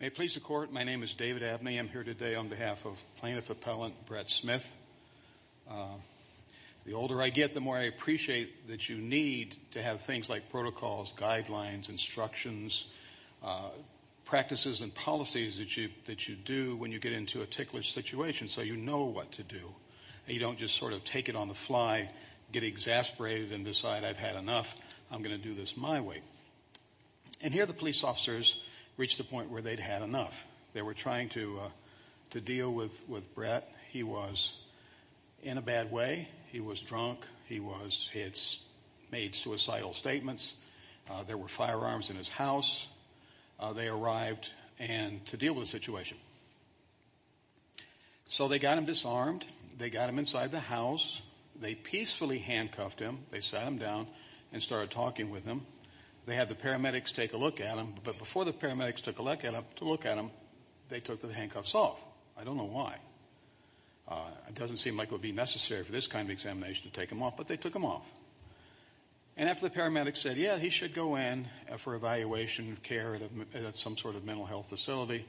May it please the Court, my name is David Abney. I'm here today on behalf of Plaintiff Appellant Brett Smith. The older I get, the more I appreciate that you need to have things like protocols, guidelines, instructions, practices and policies that you do when you get into a ticklish situation so you know what to do. You don't just sort of take it on the fly, get exasperated and decide I've had enough, I'm going to do this my way. And here the police officers reached a point where they'd had enough. They were trying to deal with Brett. He was in a bad way. He was drunk. He had made suicidal statements. There were firearms in his house. They arrived to deal with the situation. So they got him disarmed. They got him inside the house. They peacefully handcuffed him. They sat him down and started talking with him. They had the paramedics take a look at him. But before the paramedics took a look at him, they took the handcuffs off. I don't know why. It doesn't seem like it would be necessary for this kind of examination to take him off, but they took him off. And after the paramedics said, yeah, he should go in for evaluation of care at some sort of mental health facility,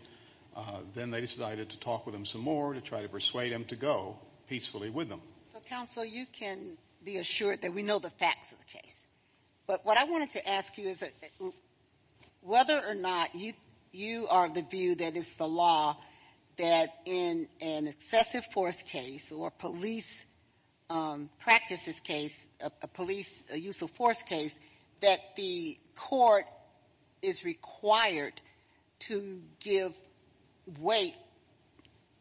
then they decided to talk with him some more to try to persuade him to go peacefully with them. So, counsel, you can be assured that we know the facts of the case. But what I wanted to ask you is whether or not you are of the view that it's the law that in an excessive force case or police practices case, a police, a use of force case, that the court is required to give weight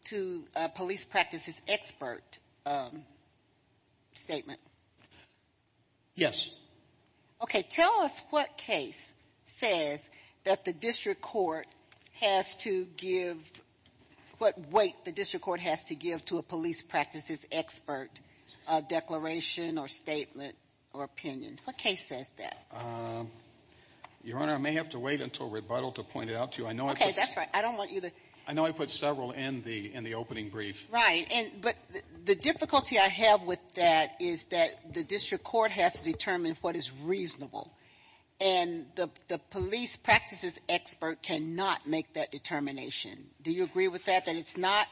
to a police practices expert statement. Yes. Okay. Tell us what case says that the district court has to give, what weight the district court has to give to a police practices expert declaration or statement or opinion. What case says that? Your Honor, I may have to wait until rebuttal to point it out to you. I know I put Okay. That's right. I don't want you to I know I put several in the opening brief. Right. But the difficulty I have with that is that the district court has to determine what is reasonable. And the police practices expert cannot make that determination. Do you agree with that, that it's not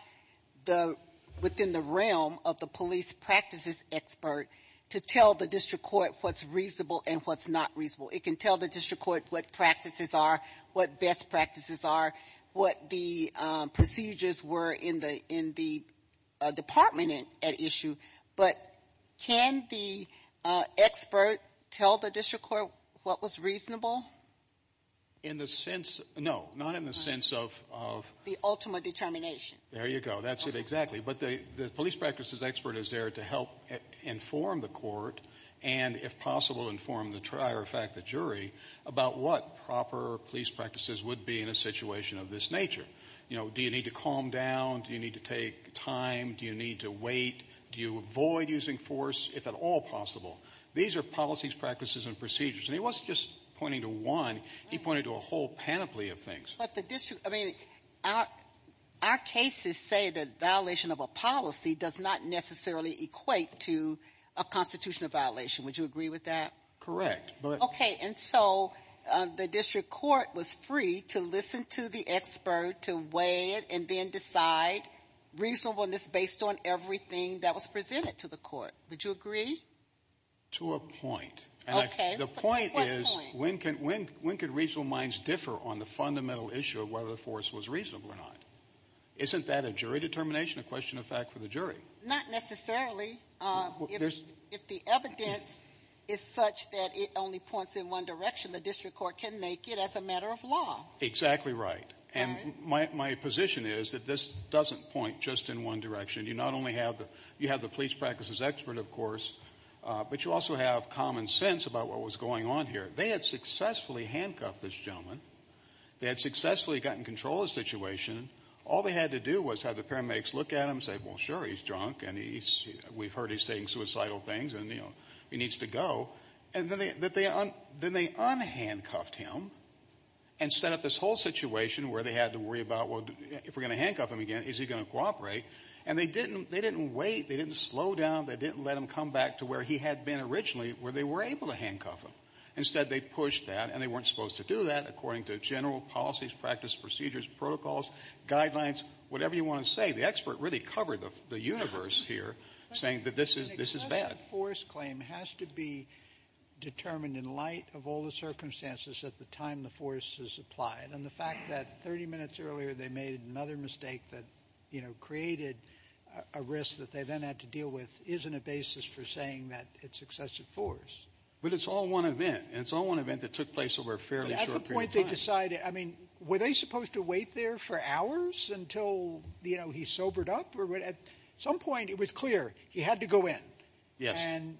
the — within the realm of the police practices expert to tell the district court what's reasonable and what's not reasonable? It can tell the district court what practices are, what best practices are, what the procedures were in the — in the department at issue, but can the expert tell the district court what was reasonable? In the sense — no, not in the sense of — The ultimate determination. There you go. That's it, exactly. But the police practices expert is there to help inform the court and, if possible, inform the — or, in fact, the jury about what proper police practices would be in a situation of this nature. You know, do you need to calm down? Do you need to take time? Do you need to wait? Do you avoid using force, if at all possible? These are policies, practices, and procedures. And he wasn't just pointing to one. He pointed to a whole panoply of things. But the district — I mean, our cases say that violation of a policy does not necessarily equate to a constitutional violation. Would you agree with that? Correct, but — Okay. And so the district court was free to listen to the expert, to weigh it, and then decide reasonableness based on everything that was presented to the court. Would you agree? To a point. Okay. But to what point? The point is, when can — when could reasonable minds differ on the fundamental issue of whether the force was reasonable or not? Isn't that a jury determination, a question of fact for the jury? Not necessarily. If the evidence is such that it only points in one direction, the district court can make it as a matter of law. Exactly right. And my position is that this doesn't point just in one direction. You not only have the — you have the police practices expert, of course, but you also have common sense about what was going on here. They had successfully handcuffed this gentleman. They had successfully gotten control of the situation. All they had to do was have the paramedics look at him, say, well, sure, he's drunk, and he's — we've heard he's saying suicidal things, and, you know, he needs to go. And then they unhandcuffed him and set up this whole situation where they had to worry about, well, if we're going to handcuff him again, is he going to cooperate? And they didn't — they didn't wait. They didn't slow down. They didn't let him come back to where he had been originally, where they were able to handcuff him. Instead, they pushed that, and they weren't supposed to do that according to general policies, practice, procedures, protocols, guidelines, whatever you want to say. The expert really covered the universe here, saying that this is — this is bad. But the excessive force claim has to be determined in light of all the circumstances at the time the force is applied. And the fact that 30 minutes earlier they made another mistake that, you know, created a risk that they then had to deal with isn't a basis for saying that it's excessive force. But it's all one event. And it's all one event that took place over a fairly short period of time. But at the point they decided — I mean, were they supposed to wait there for hours until, you know, he sobered up? Or at some point it was clear he had to go in. Yes. And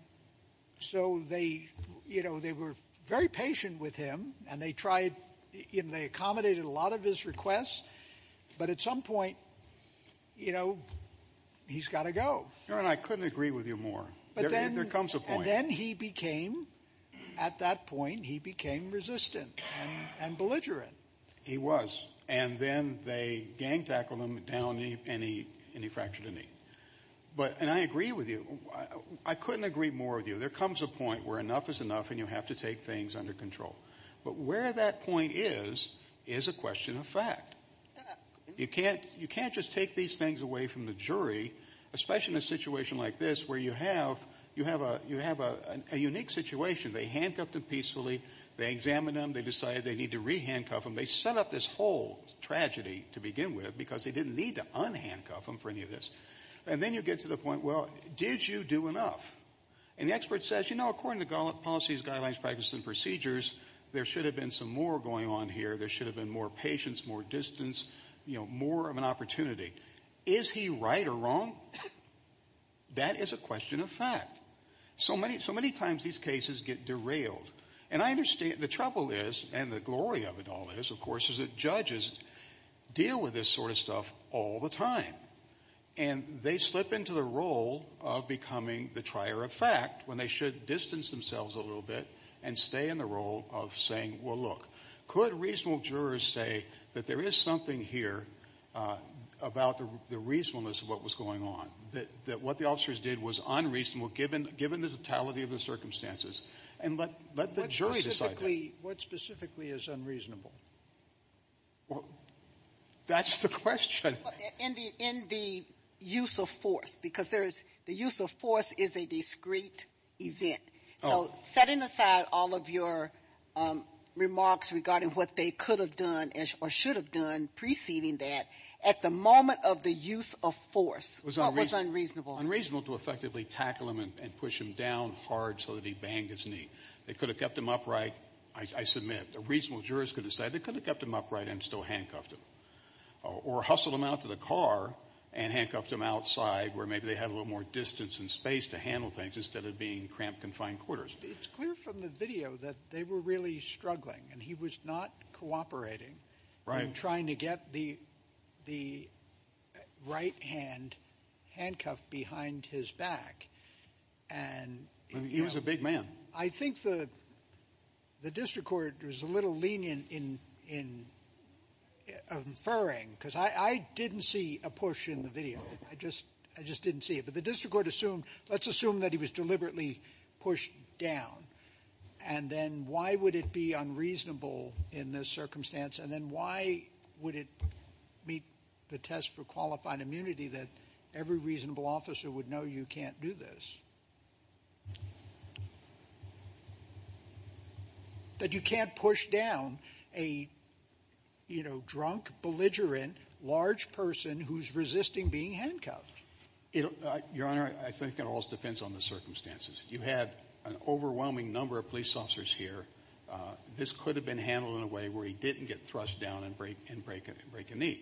so they — you know, they were very patient with him, and they tried — and they accommodated a lot of his requests. But at some point, you know, he's got to go. Your Honor, I couldn't agree with you more. There comes a point — But then — and then he became — at that point, he became resistant and belligerent. He was. And then they gang-tackled him down, and he fractured a knee. But — and I agree with you. I couldn't agree more with you. There comes a point where enough is enough, and you have to take things under control. But where that point is, is a question of fact. You can't — you can't just take these things away from the jury, especially in a situation like this, where you have — you have a — you have a unique situation. They handcuffed him peacefully. They examined him. They decided they need to re-handcuff him. They set up this whole tragedy to begin with, because they didn't need to un-handcuff him for any of this. And then you get to the point, well, did you do enough? And the expert says, you know, according to policies, guidelines, practices, and procedures, there should have been some more going on here. There should have been more patience, more distance, you know, more of an opportunity. Is he right or wrong? That is a question of fact. So many — so many times, these cases get derailed. And I understand — the trouble is, and the glory of it all is, of course, is that judges deal with this sort of stuff all the time. And they slip into the role of becoming the trier of fact, when they should distance themselves a little bit and stay in the role of saying, well, look, could reasonable jurors say that there is something here about the reasonableness of what was going on, that what the officers did was unreasonable, given the totality of the circumstances, and let the jury decide that? What specifically is unreasonable? Well, that's the question. In the — in the use of force, because there is — the use of force is a discreet event. So setting aside all of your remarks regarding what they could have done or should have done preceding that, at the moment of the use of force, what was unreasonable? Unreasonable to effectively tackle him and push him down hard so that he banged his knee. They could have kept him upright, I submit. The reasonable jurors could have said they could have kept him upright and still handcuffed him. Or hustled him out to the car and handcuffed him outside, where maybe they had a little more distance and space to handle things instead of being in cramped, confined quarters. It's clear from the video that they were really struggling. And he was not cooperating in trying to get the — the right-hand handcuffed behind his back. And, you know — He was a big man. I think the — the district court was a little lenient in — in inferring, because I — I didn't see a push in the video. I just — I just didn't see it. But the district court assumed — let's assume that he was deliberately pushed down. And then why would it be unreasonable in this circumstance? And then why would it meet the test for qualified immunity that every reasonable officer would know you can't do this? That you can't push down a, you know, drunk, belligerent, large person who's resisting being handcuffed. It — Your Honor, I think it all depends on the circumstances. You had an overwhelming number of police officers here. This could have been handled in a way where he didn't get thrust down and break — and break a — and break a knee.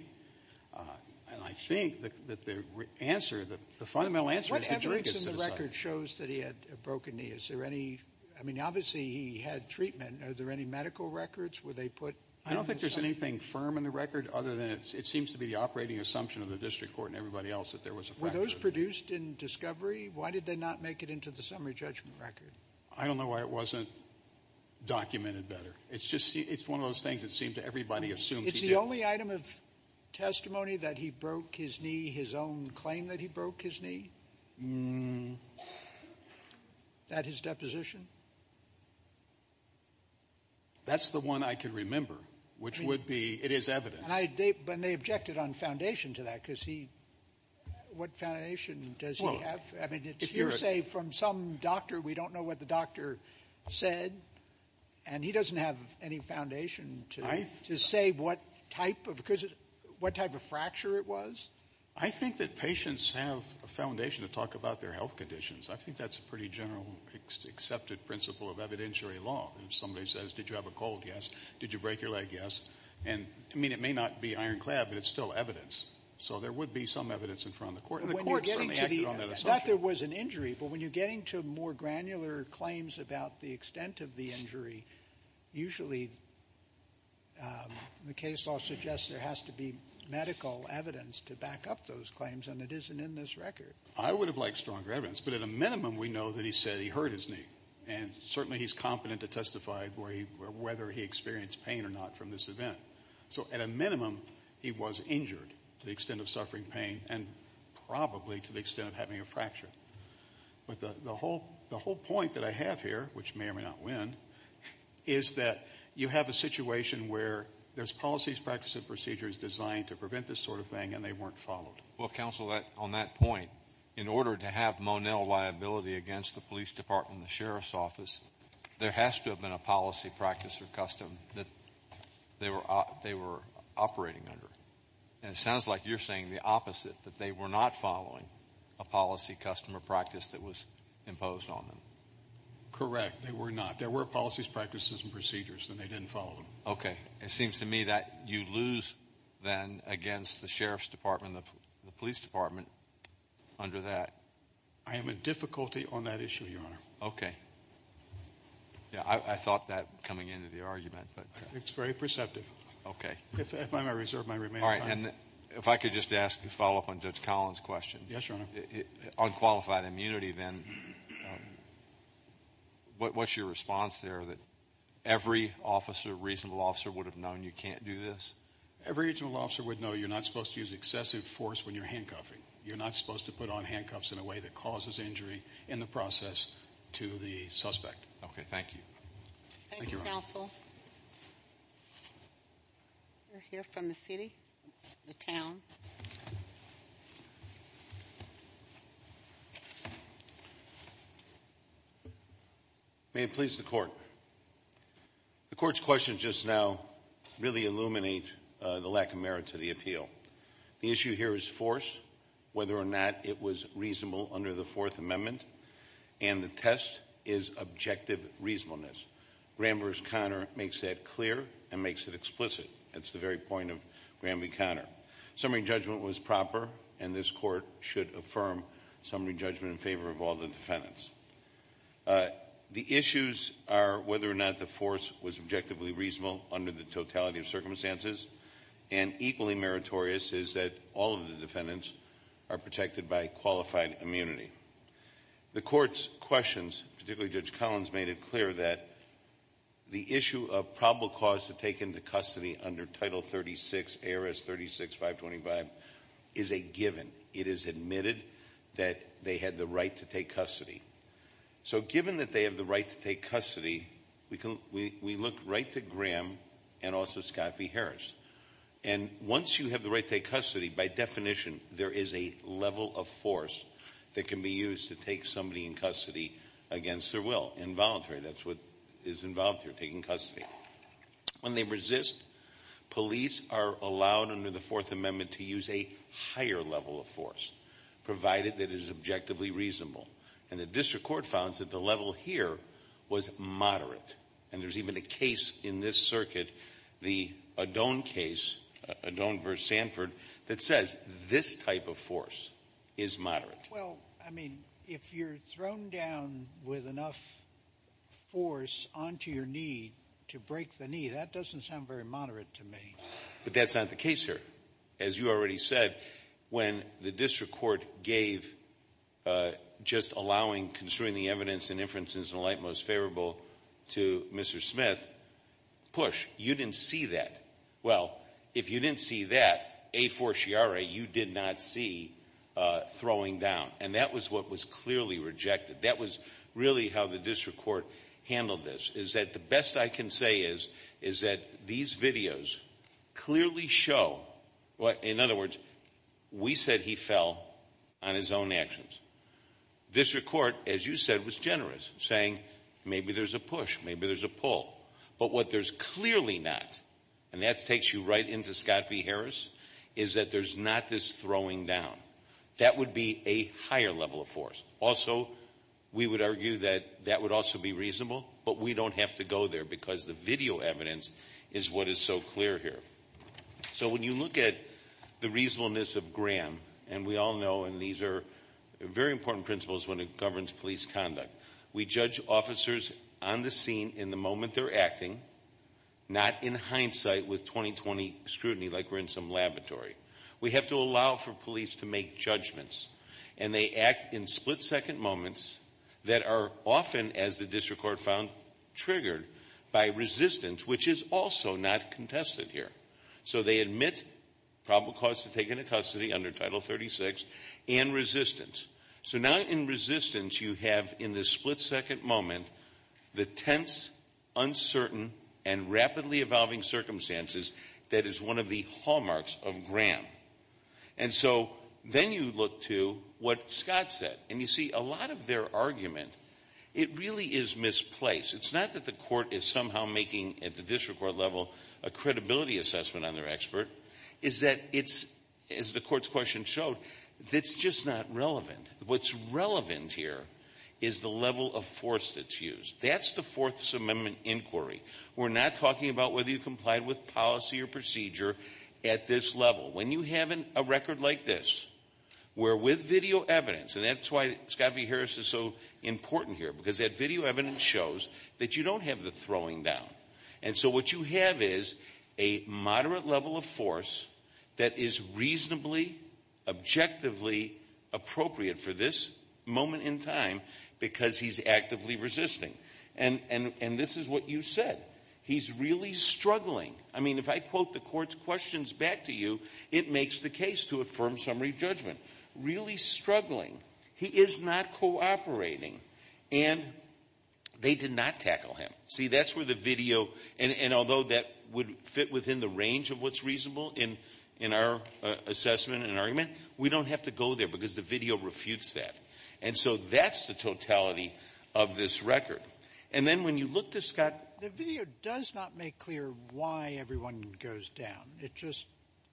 And I think that the answer — the fundamental answer is the jury gets to decide. What evidence in the record shows that he had a broken knee? Is there any — I mean, obviously, he had treatment. Are there any medical records? Were they put — I don't think there's anything firm in the record other than it seems to be the operating assumption of the district court and everybody else that there was a fracture. Were those produced in discovery? Why did they not make it into the summary judgment record? I don't know why it wasn't documented better. It's just — it's one of those things that seems everybody assumes he did. It's the only item of testimony that he broke his knee — his own claim that he broke his knee? Is that his deposition? That's the one I can remember, which would be — it is evidence. And they objected on foundation to that, because he — what foundation does he have? I mean, it's hearsay from some doctor. We don't know what the doctor said. And he doesn't have any foundation to say what type of — because — what type of fracture it was? I think that patients have a foundation to talk about their health conditions. I think that's a pretty general accepted principle of evidentiary law. If somebody says, did you have a cold? Yes. Did you break your leg? Yes. And, I mean, it may not be ironclad, but it's still evidence. So there would be some evidence in front of the court. And the court certainly acted on that assumption. But when you're getting to the — not that there was an injury, but when you're getting to more granular claims about the extent of the injury, usually the case law suggests there has to be medical evidence to back up those claims, and it isn't in this record. I would have liked stronger evidence. But at a minimum, we know that he said he hurt his knee. And certainly he's competent to testify whether he experienced pain or not from this event. So at a minimum, he was injured to the extent of suffering pain, and probably to the extent of having a fracture. But the whole point that I have here, which may or may not win, is that you have a situation where there's policies, practices, and procedures designed to prevent this sort of thing, and they weren't followed. Well, counsel, on that point, in order to have Monell liability against the police department and the sheriff's office, there has to have been a policy, practice, or custom that they were operating under. And it sounds like you're saying the opposite, that they were not following a policy, custom, or practice that was imposed on them. Correct. They were not. There were policies, practices, and procedures, and they didn't follow them. Okay. It seems to me that you lose, then, against the sheriff's department and the police department under that. I am in difficulty on that issue, Your Honor. Okay. Yeah, I thought that coming into the argument, but. It's very perceptive. Okay. If I may reserve my remaining time. All right, and if I could just ask a follow-up on Judge Collins' question. Yes, Your Honor. On qualified immunity, then, what's your response there, that every officer, reasonable officer, would have known you can't do this? Every reasonable officer would know you're not supposed to use excessive force when you're handcuffing. You're not supposed to put on handcuffs in a way that causes injury in the process to the suspect. Okay. Thank you. Thank you, counsel. We'll hear from the city, the town. May it please the court. The court's questions just now really illuminate the lack of merit to the appeal. The issue here is force, whether or not it was reasonable under the Fourth Amendment, and the test is objective reasonableness. Graham v. Conner makes that clear and makes it explicit. That's the very point of Graham v. Conner. Summary judgment was proper, and this court should affirm summary judgment in favor of all the defendants. The issues are whether or not the force was objectively reasonable under the totality of circumstances, and equally meritorious is that all of the defendants are protected by qualified immunity. The court's questions, particularly Judge Collins, made it clear that the issue of probable cause to take into custody under Title 36, ARS 36-525, is a given. It is admitted that they had the right to take custody. So given that they have the right to take custody, we look right to Graham and also Scott v. Harris. And once you have the right to take custody, by definition, there is a level of force that can be used to take somebody in custody against their will, involuntary. That's what is involved here, taking custody. When they resist, police are allowed under the Fourth Amendment to use a higher level of force, provided that it is objectively reasonable. And the district court founds that the level here was moderate, and there's even a case in this circuit, the Adone case, Adone v. Sanford, that says this type of force is moderate. Well, I mean, if you're thrown down with enough force onto your knee to break the knee, that doesn't sound very moderate to me. But that's not the case here. As you already said, when the district court gave just allowing, construing the evidence and inferences in the light most favorable to Mr. Smith, push. You didn't see that. Well, if you didn't see that, a forciare, you did not see throwing down. And that was what was clearly rejected. That was really how the district court handled this, is that the best I can say is that these videos clearly show, in other words, we said he fell on his own actions. District court, as you said, was generous, saying maybe there's a push, maybe there's a pull. But what there's clearly not, and that takes you right into Scott v. Harris, is that there's not this throwing down. That would be a higher level of force. Also, we would argue that that would also be reasonable, but we don't have to go there, because the video evidence is what is so clear here. So when you look at the reasonableness of Graham, and we all know, and these are very important principles when it governs police conduct, we judge officers on the scene in the moment they're acting, not in hindsight with 20-20 scrutiny, like we're in some laboratory. We have to allow for police to make judgments, and they act in split-second moments that are often, as the district court found, triggered by resistance, which is also not contested here. So they admit probable cause to take into custody under Title 36, and resistance. So now in resistance, you have, in this split-second moment, the tense, uncertain, and rapidly evolving circumstances that is one of the hallmarks of Graham. And so then you look to what Scott said, and you see a lot of their argument, it really is misplaced. It's not that the court is somehow making, at the district court level, a credibility assessment on their expert. It's that it's, as the court's question showed, it's just not relevant. What's relevant here is the level of force that's used. That's the Fourth Amendment inquiry. We're not talking about whether you complied with policy or procedure at this level. When you have a record like this, where with video evidence, and that's why Scott v. Harris is so important here, because that video evidence shows that you don't have the throwing down. And so what you have is a moderate level of force that is reasonably, objectively appropriate for this moment in time, because he's actively resisting. And this is what you said. He's really struggling. I mean, if I quote the court's questions back to you, it makes the case to affirm summary judgment. Really struggling. He is not cooperating. And they did not tackle him. See, that's where the video, and although that would fit within the range of what's reasonable in our assessment and argument, we don't have to go there because the video refutes that. And so that's the totality of this record. And then when you look to Scott. The video does not make clear why everyone goes down. It just,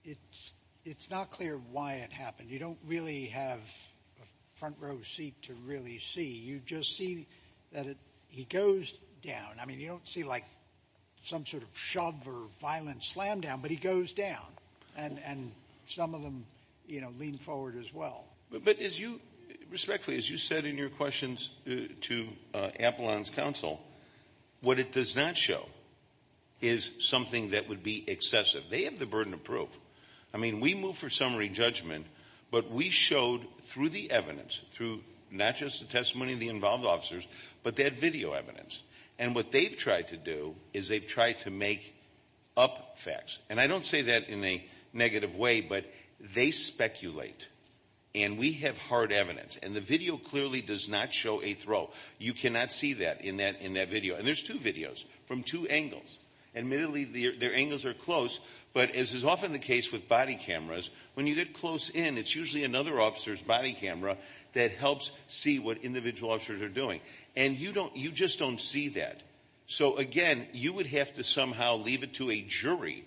it's not clear why it happened. You don't really have a front row seat to really see. You just see that he goes down. I mean, you don't see like some sort of shove or violent slam down, but he goes down. And some of them, you know, lean forward as well. But as you, respectfully, as you said in your questions to Apollon's counsel, what it does not show is something that would be excessive. They have the burden of proof. I mean, we move for summary judgment, but we showed through the evidence, through not just the testimony of the involved officers, but that video evidence. And what they've tried to do is they've tried to make up facts. And I don't say that in a negative way, but they speculate. And we have hard evidence. And the video clearly does not show a throw. You cannot see that in that video. And there's two videos from two angles. Admittedly, their angles are close, but as is often the case with body cameras, when you get close in, it's usually another officer's body camera that helps see what individual officers are doing. And you don't, you just don't see that. So again, you would have to somehow leave it to a jury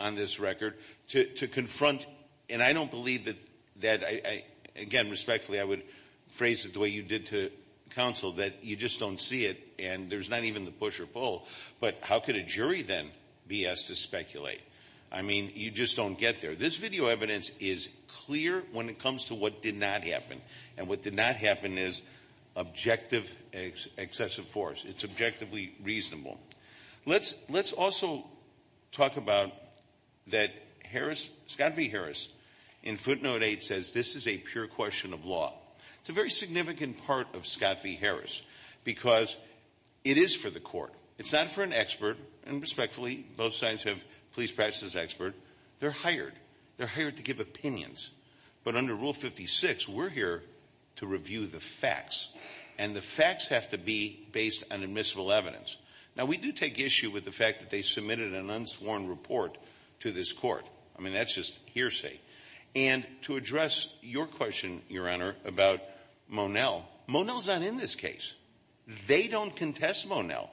on this record to confront. And I don't believe that, again, respectfully, I would phrase it the way you did to counsel, that you just don't see it. And there's not even the push or pull. But how could a jury then be asked to speculate? I mean, you just don't get there. This video evidence is clear when it comes to what did not happen. And what did not happen is objective excessive force. It's objectively reasonable. Let's also talk about that Harris, Scott v. Harris, in footnote 8 says this is a pure question of law. It's a very significant part of Scott v. Harris because it is for the court. It's not for an expert. And respectfully, both sides have pleased practice as expert. They're hired. They're hired to give opinions. But under Rule 56, we're here to review the facts. And the facts have to be based on admissible evidence. Now, we do take issue with the fact that they submitted an unsworn report to this court. I mean, that's just hearsay. And to address your question, Your Honor, about Monell, Monell's not in this case. They don't contest Monell.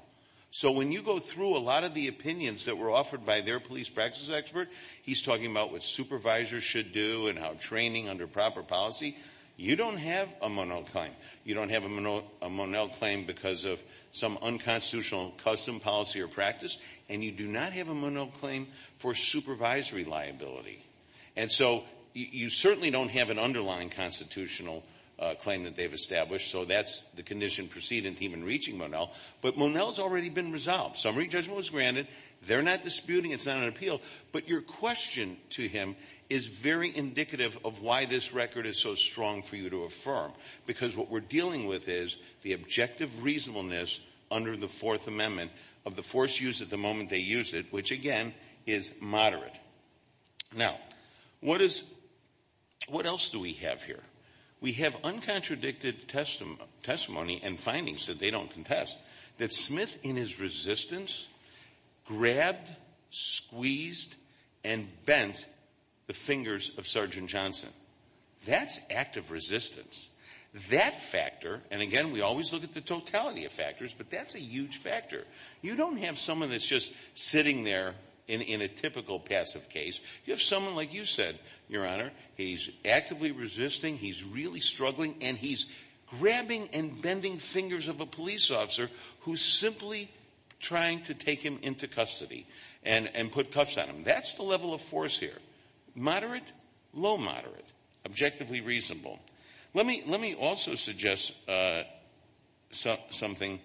So when you go through a lot of the opinions that were offered by their police practice expert, he's talking about what supervisors should do and how training under proper policy, you don't have a Monell claim. You don't have a Monell claim because of some unconstitutional custom, policy, or practice. And you do not have a Monell claim for supervisory liability. And so you certainly don't have an underlying constitutional claim that they've established. So that's the condition proceeding team in reaching Monell. But Monell's already been resolved. Summary judgment was granted. They're not disputing. It's not an appeal. But your question to him is very indicative of why this record is so strong for you to affirm. Because what we're dealing with is the objective reasonableness under the Fourth Amendment of the force used at the moment they used it, which, again, is moderate. Now, what is — what else do we have here? We have uncontradicted testimony and findings that they don't contest, that Smith, in his resistance, grabbed, squeezed, and bent the fingers of Sergeant Johnson. That's active resistance. That factor — and again, we always look at the totality of factors, but that's a huge factor. You don't have someone that's just sitting there in a typical passive case. You have someone like you said, Your Honor, he's actively resisting, he's really struggling, and he's grabbing and bending fingers of a police officer who's simply trying to take him into custody and put cuffs on him. That's the level of force here. Moderate, low moderate. Objectively reasonable. Let me also suggest something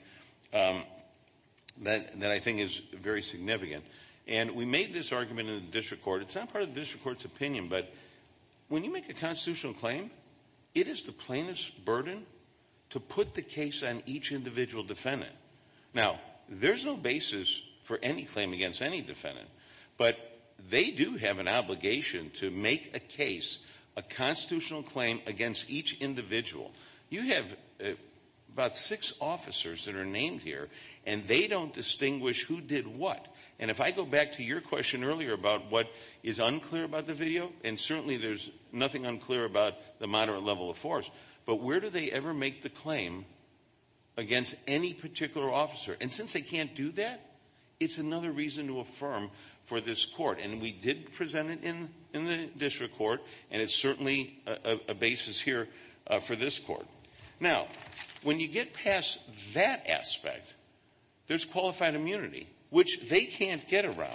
that I think is very significant. And we made this argument in the district court. It's not part of the district court's opinion, but when you make a constitutional claim, it is the plaintiff's burden to put the case on each individual defendant. Now, there's no basis for any claim against any defendant, but they do have an obligation to make a case, a constitutional claim, against each individual. You have about six officers that are named here, and they don't distinguish who did what. And if I go back to your question earlier about what is unclear about the video, and certainly there's nothing unclear about the moderate level of force, but where do they ever make the claim against any particular officer? And since they can't do that, it's another reason to affirm for this court. And we did present it in the district court, and it's certainly a basis here for this court. Now, when you get past that aspect, there's qualified immunity, which they can't get around.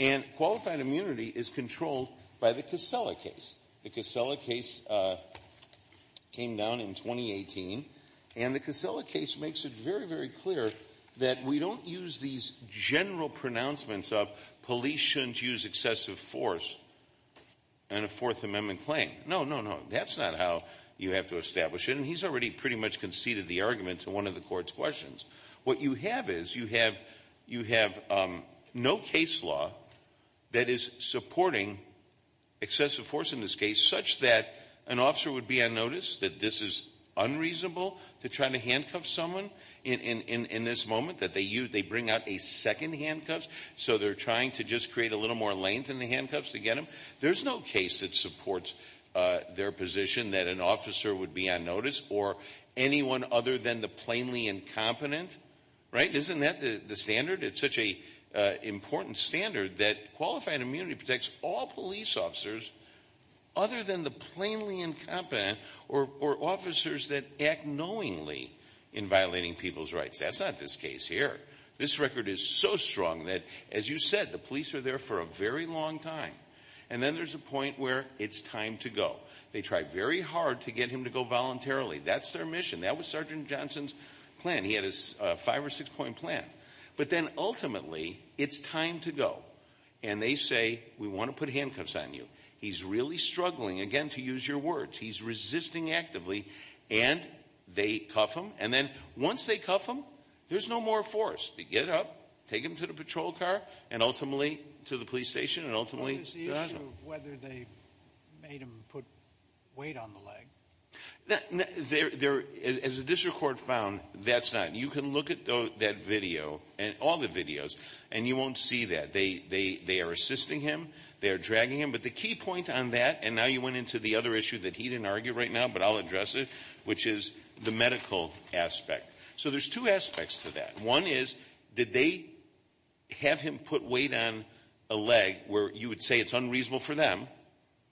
And qualified immunity is controlled by the Casella case. The Casella case came down in 2018, and the Casella case makes it very, very clear that we don't use these general pronouncements of police shouldn't use excessive force in a Fourth Amendment claim. No, no, no. That's not how you have to establish it, and he's already pretty much conceded the argument to one of the court's questions. What you have is, you have no case law that is supporting excessive force in this case, such that an officer would be on notice that this is unreasonable to try to handcuff someone in this moment, that they bring out a second handcuffs, so they're trying to just create a little more length in the handcuffs to get them. There's no case that supports their position that an officer would be on notice, or anyone other than the plainly incompetent. Right? Isn't that the standard? It's such an important standard that qualified immunity protects all police officers other than the plainly incompetent, or officers that act knowingly in violating people's rights. That's not this case here. This record is so strong that, as you said, the police are there for a very long time, and then there's a point where it's time to go. They try very hard to get him to go voluntarily. That's their mission. That was Sergeant Johnson's plan. He had his five or six point plan. But then, ultimately, it's time to go. And they say, we want to put handcuffs on you. He's really struggling, again, to use your words. He's resisting actively, and they cuff him. And then, once they cuff him, there's no more force. They get up, take him to the patrol car, and ultimately to the police station, and ultimately. It's the issue of whether they made him put weight on the leg. As the district court found, that's not. You can look at that video, all the videos, and you won't see that. They are assisting him. They are dragging him. But the key point on that, and now you went into the other issue that he didn't argue right now, but I'll address it, which is the medical aspect. So there's two aspects to that. One is, did they have him put weight on a leg where you would say it's unreasonable for them?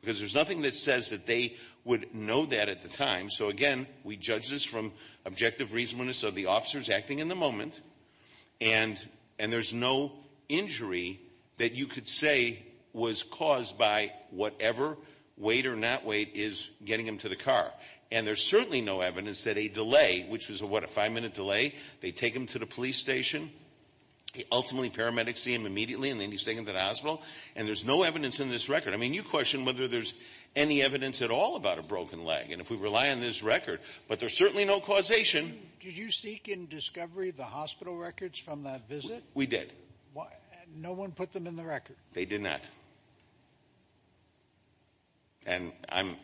Because there's nothing that says that they would know that at the time. So, again, we judge this from objective reasonableness of the officers acting in the moment. And there's no injury that you could say was caused by whatever weight or not weight is getting him to the car. And there's certainly no evidence that a delay, which was, what, a five minute delay? They take him to the police station, ultimately paramedics see him immediately, and then he's taken to the hospital. And there's no evidence in this record. I mean, you question whether there's any evidence at all about a broken leg. And if we rely on this record, but there's certainly no causation. Did you seek in discovery the hospital records from that visit? We did. No one put them in the record? They did not. And I'm...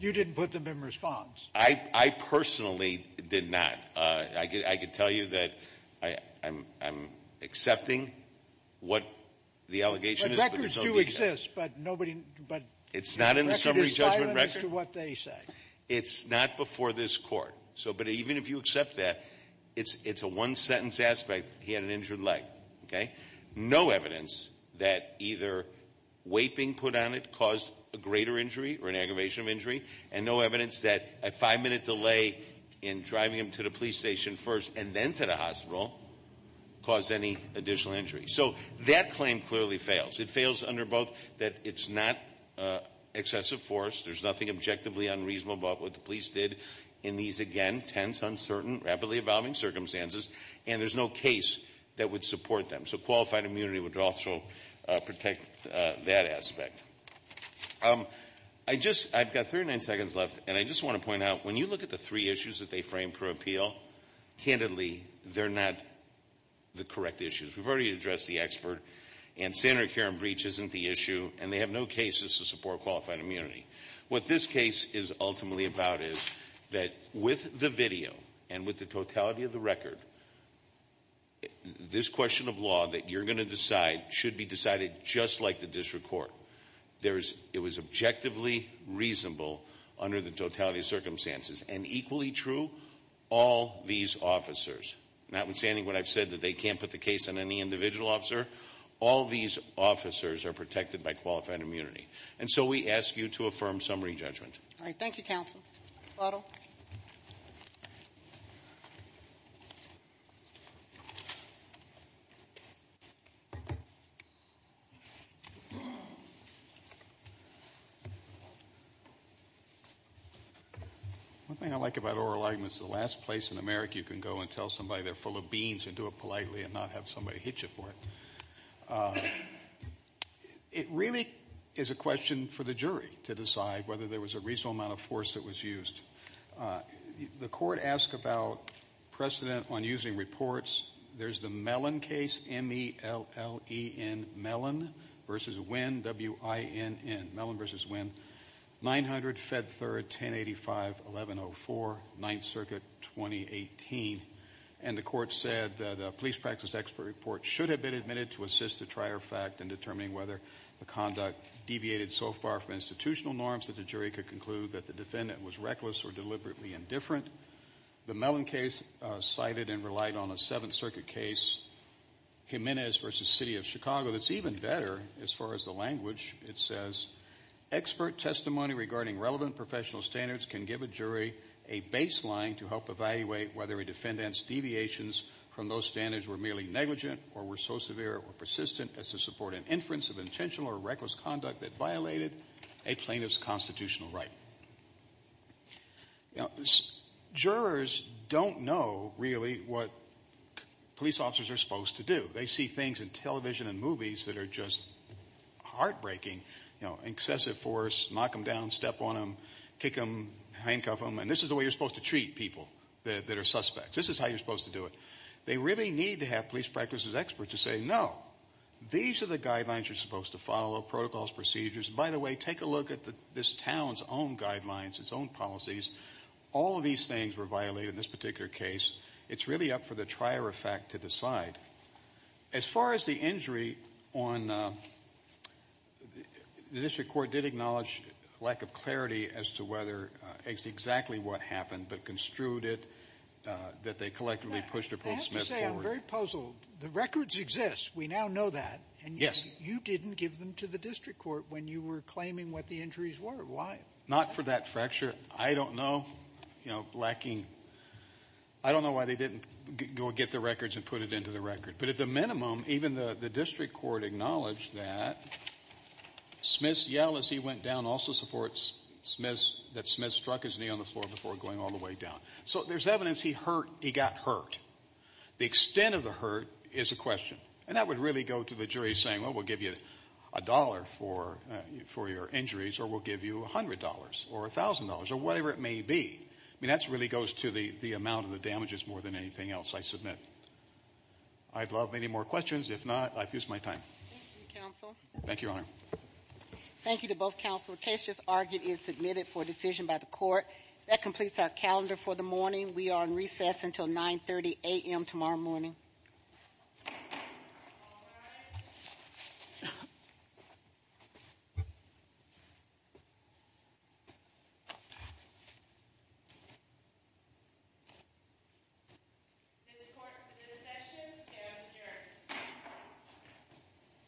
You didn't put them in response? I personally did not. I can tell you that I'm accepting what the allegation is. But records do exist, but nobody... It's not in the summary judgment record. Record is silent as to what they say. It's not before this court. But even if you accept that, it's a one sentence aspect, he had an injured leg, okay? No evidence that either weight being put on it caused a greater injury or an aggravation of injury. And no evidence that a five minute delay in driving him to the police station first and then to the hospital caused any additional injury. So that claim clearly fails. It fails under both that it's not excessive force, there's nothing objectively unreasonable about what the police did in these, again, tense, uncertain, rapidly evolving circumstances. And there's no case that would support them. So qualified immunity would also protect that aspect. I've got 39 seconds left, and I just want to point out, when you look at the three issues that they frame per appeal, candidly, they're not the correct issues. We've already addressed the expert. And standard care and breach isn't the issue, and they have no cases to support qualified immunity. What this case is ultimately about is that with the video and with the totality of the record, this question of law that you're going to decide should be decided just like the district court. It was objectively reasonable under the totality of circumstances. And equally true, all these officers, notwithstanding what I've said, that they can't put the case on any individual officer. All these officers are protected by qualified immunity. And so we ask you to affirm summary judgment. All right, thank you, counsel. Otto. One thing I like about oral arguments is the last place in America you can go and tell somebody they're full of beans and do it politely and not have somebody hit you for it. It really is a question for the jury to decide whether there was a reasonable amount of force that was used. The court asked about precedent on using reports. There's the Mellon case, M-E-L-L-E-N, Mellon versus Winn, W-I-N-N, Mellon versus Winn, 900, Fed Third, 1085, 1104, 9th Circuit, 2018. And the court said that a police practice expert report should have been admitted to assist the trier fact in determining whether the conduct deviated so far from institutional norms that the jury could conclude that the defendant was reckless or deliberately indifferent. The Mellon case cited and relied on a Seventh Circuit case, Jimenez versus City of Chicago. That's even better as far as the language. It says, expert testimony regarding relevant professional standards can give a jury a baseline to help evaluate whether a defendant's deviations from those standards were merely negligent or were so severe or persistent as to support an inference of intentional or reckless conduct that violated a plaintiff's constitutional right. Now jurors don't know really what police officers are supposed to do. They see things in television and movies that are just heartbreaking. You know, excessive force, knock them down, step on them, kick them, handcuff them. And this is the way you're supposed to treat people that are suspects. This is how you're supposed to do it. They really need to have police practices experts to say, no, these are the guidelines you're supposed to follow, protocols, procedures. And, by the way, take a look at this town's own guidelines, its own policies. All of these things were violated in this particular case. It's really up for the trier of fact to decide. As far as the injury on the district court did acknowledge lack of clarity as to whether it's exactly what happened, but construed it that they collectively pushed or pulled Smith forward. Sotomayor, I have to say, I'm very puzzled. The records exist. We now know that. And you didn't give them to the district court. When you were claiming what the injuries were, why? Not for that fracture. I don't know. You know, lacking, I don't know why they didn't go get the records and put it into the record. But at the minimum, even the district court acknowledged that Smith's yell as he went down also supports Smith's, that Smith struck his knee on the floor before going all the way down. So there's evidence he hurt, he got hurt. The extent of the hurt is a question. And that would really go to the jury saying, well, we'll give you a dollar for your injuries or we'll give you $100 or $1,000 or whatever it may be. I mean, that really goes to the amount of the damages more than anything else I submit. I'd love any more questions. If not, I've used my time. Thank you, Your Honor. Thank you to both counsel. The case just argued is submitted for decision by the court. That completes our calendar for the morning. We are on recess until 930 a.m. tomorrow morning. All rise. This court for this session stands adjourned.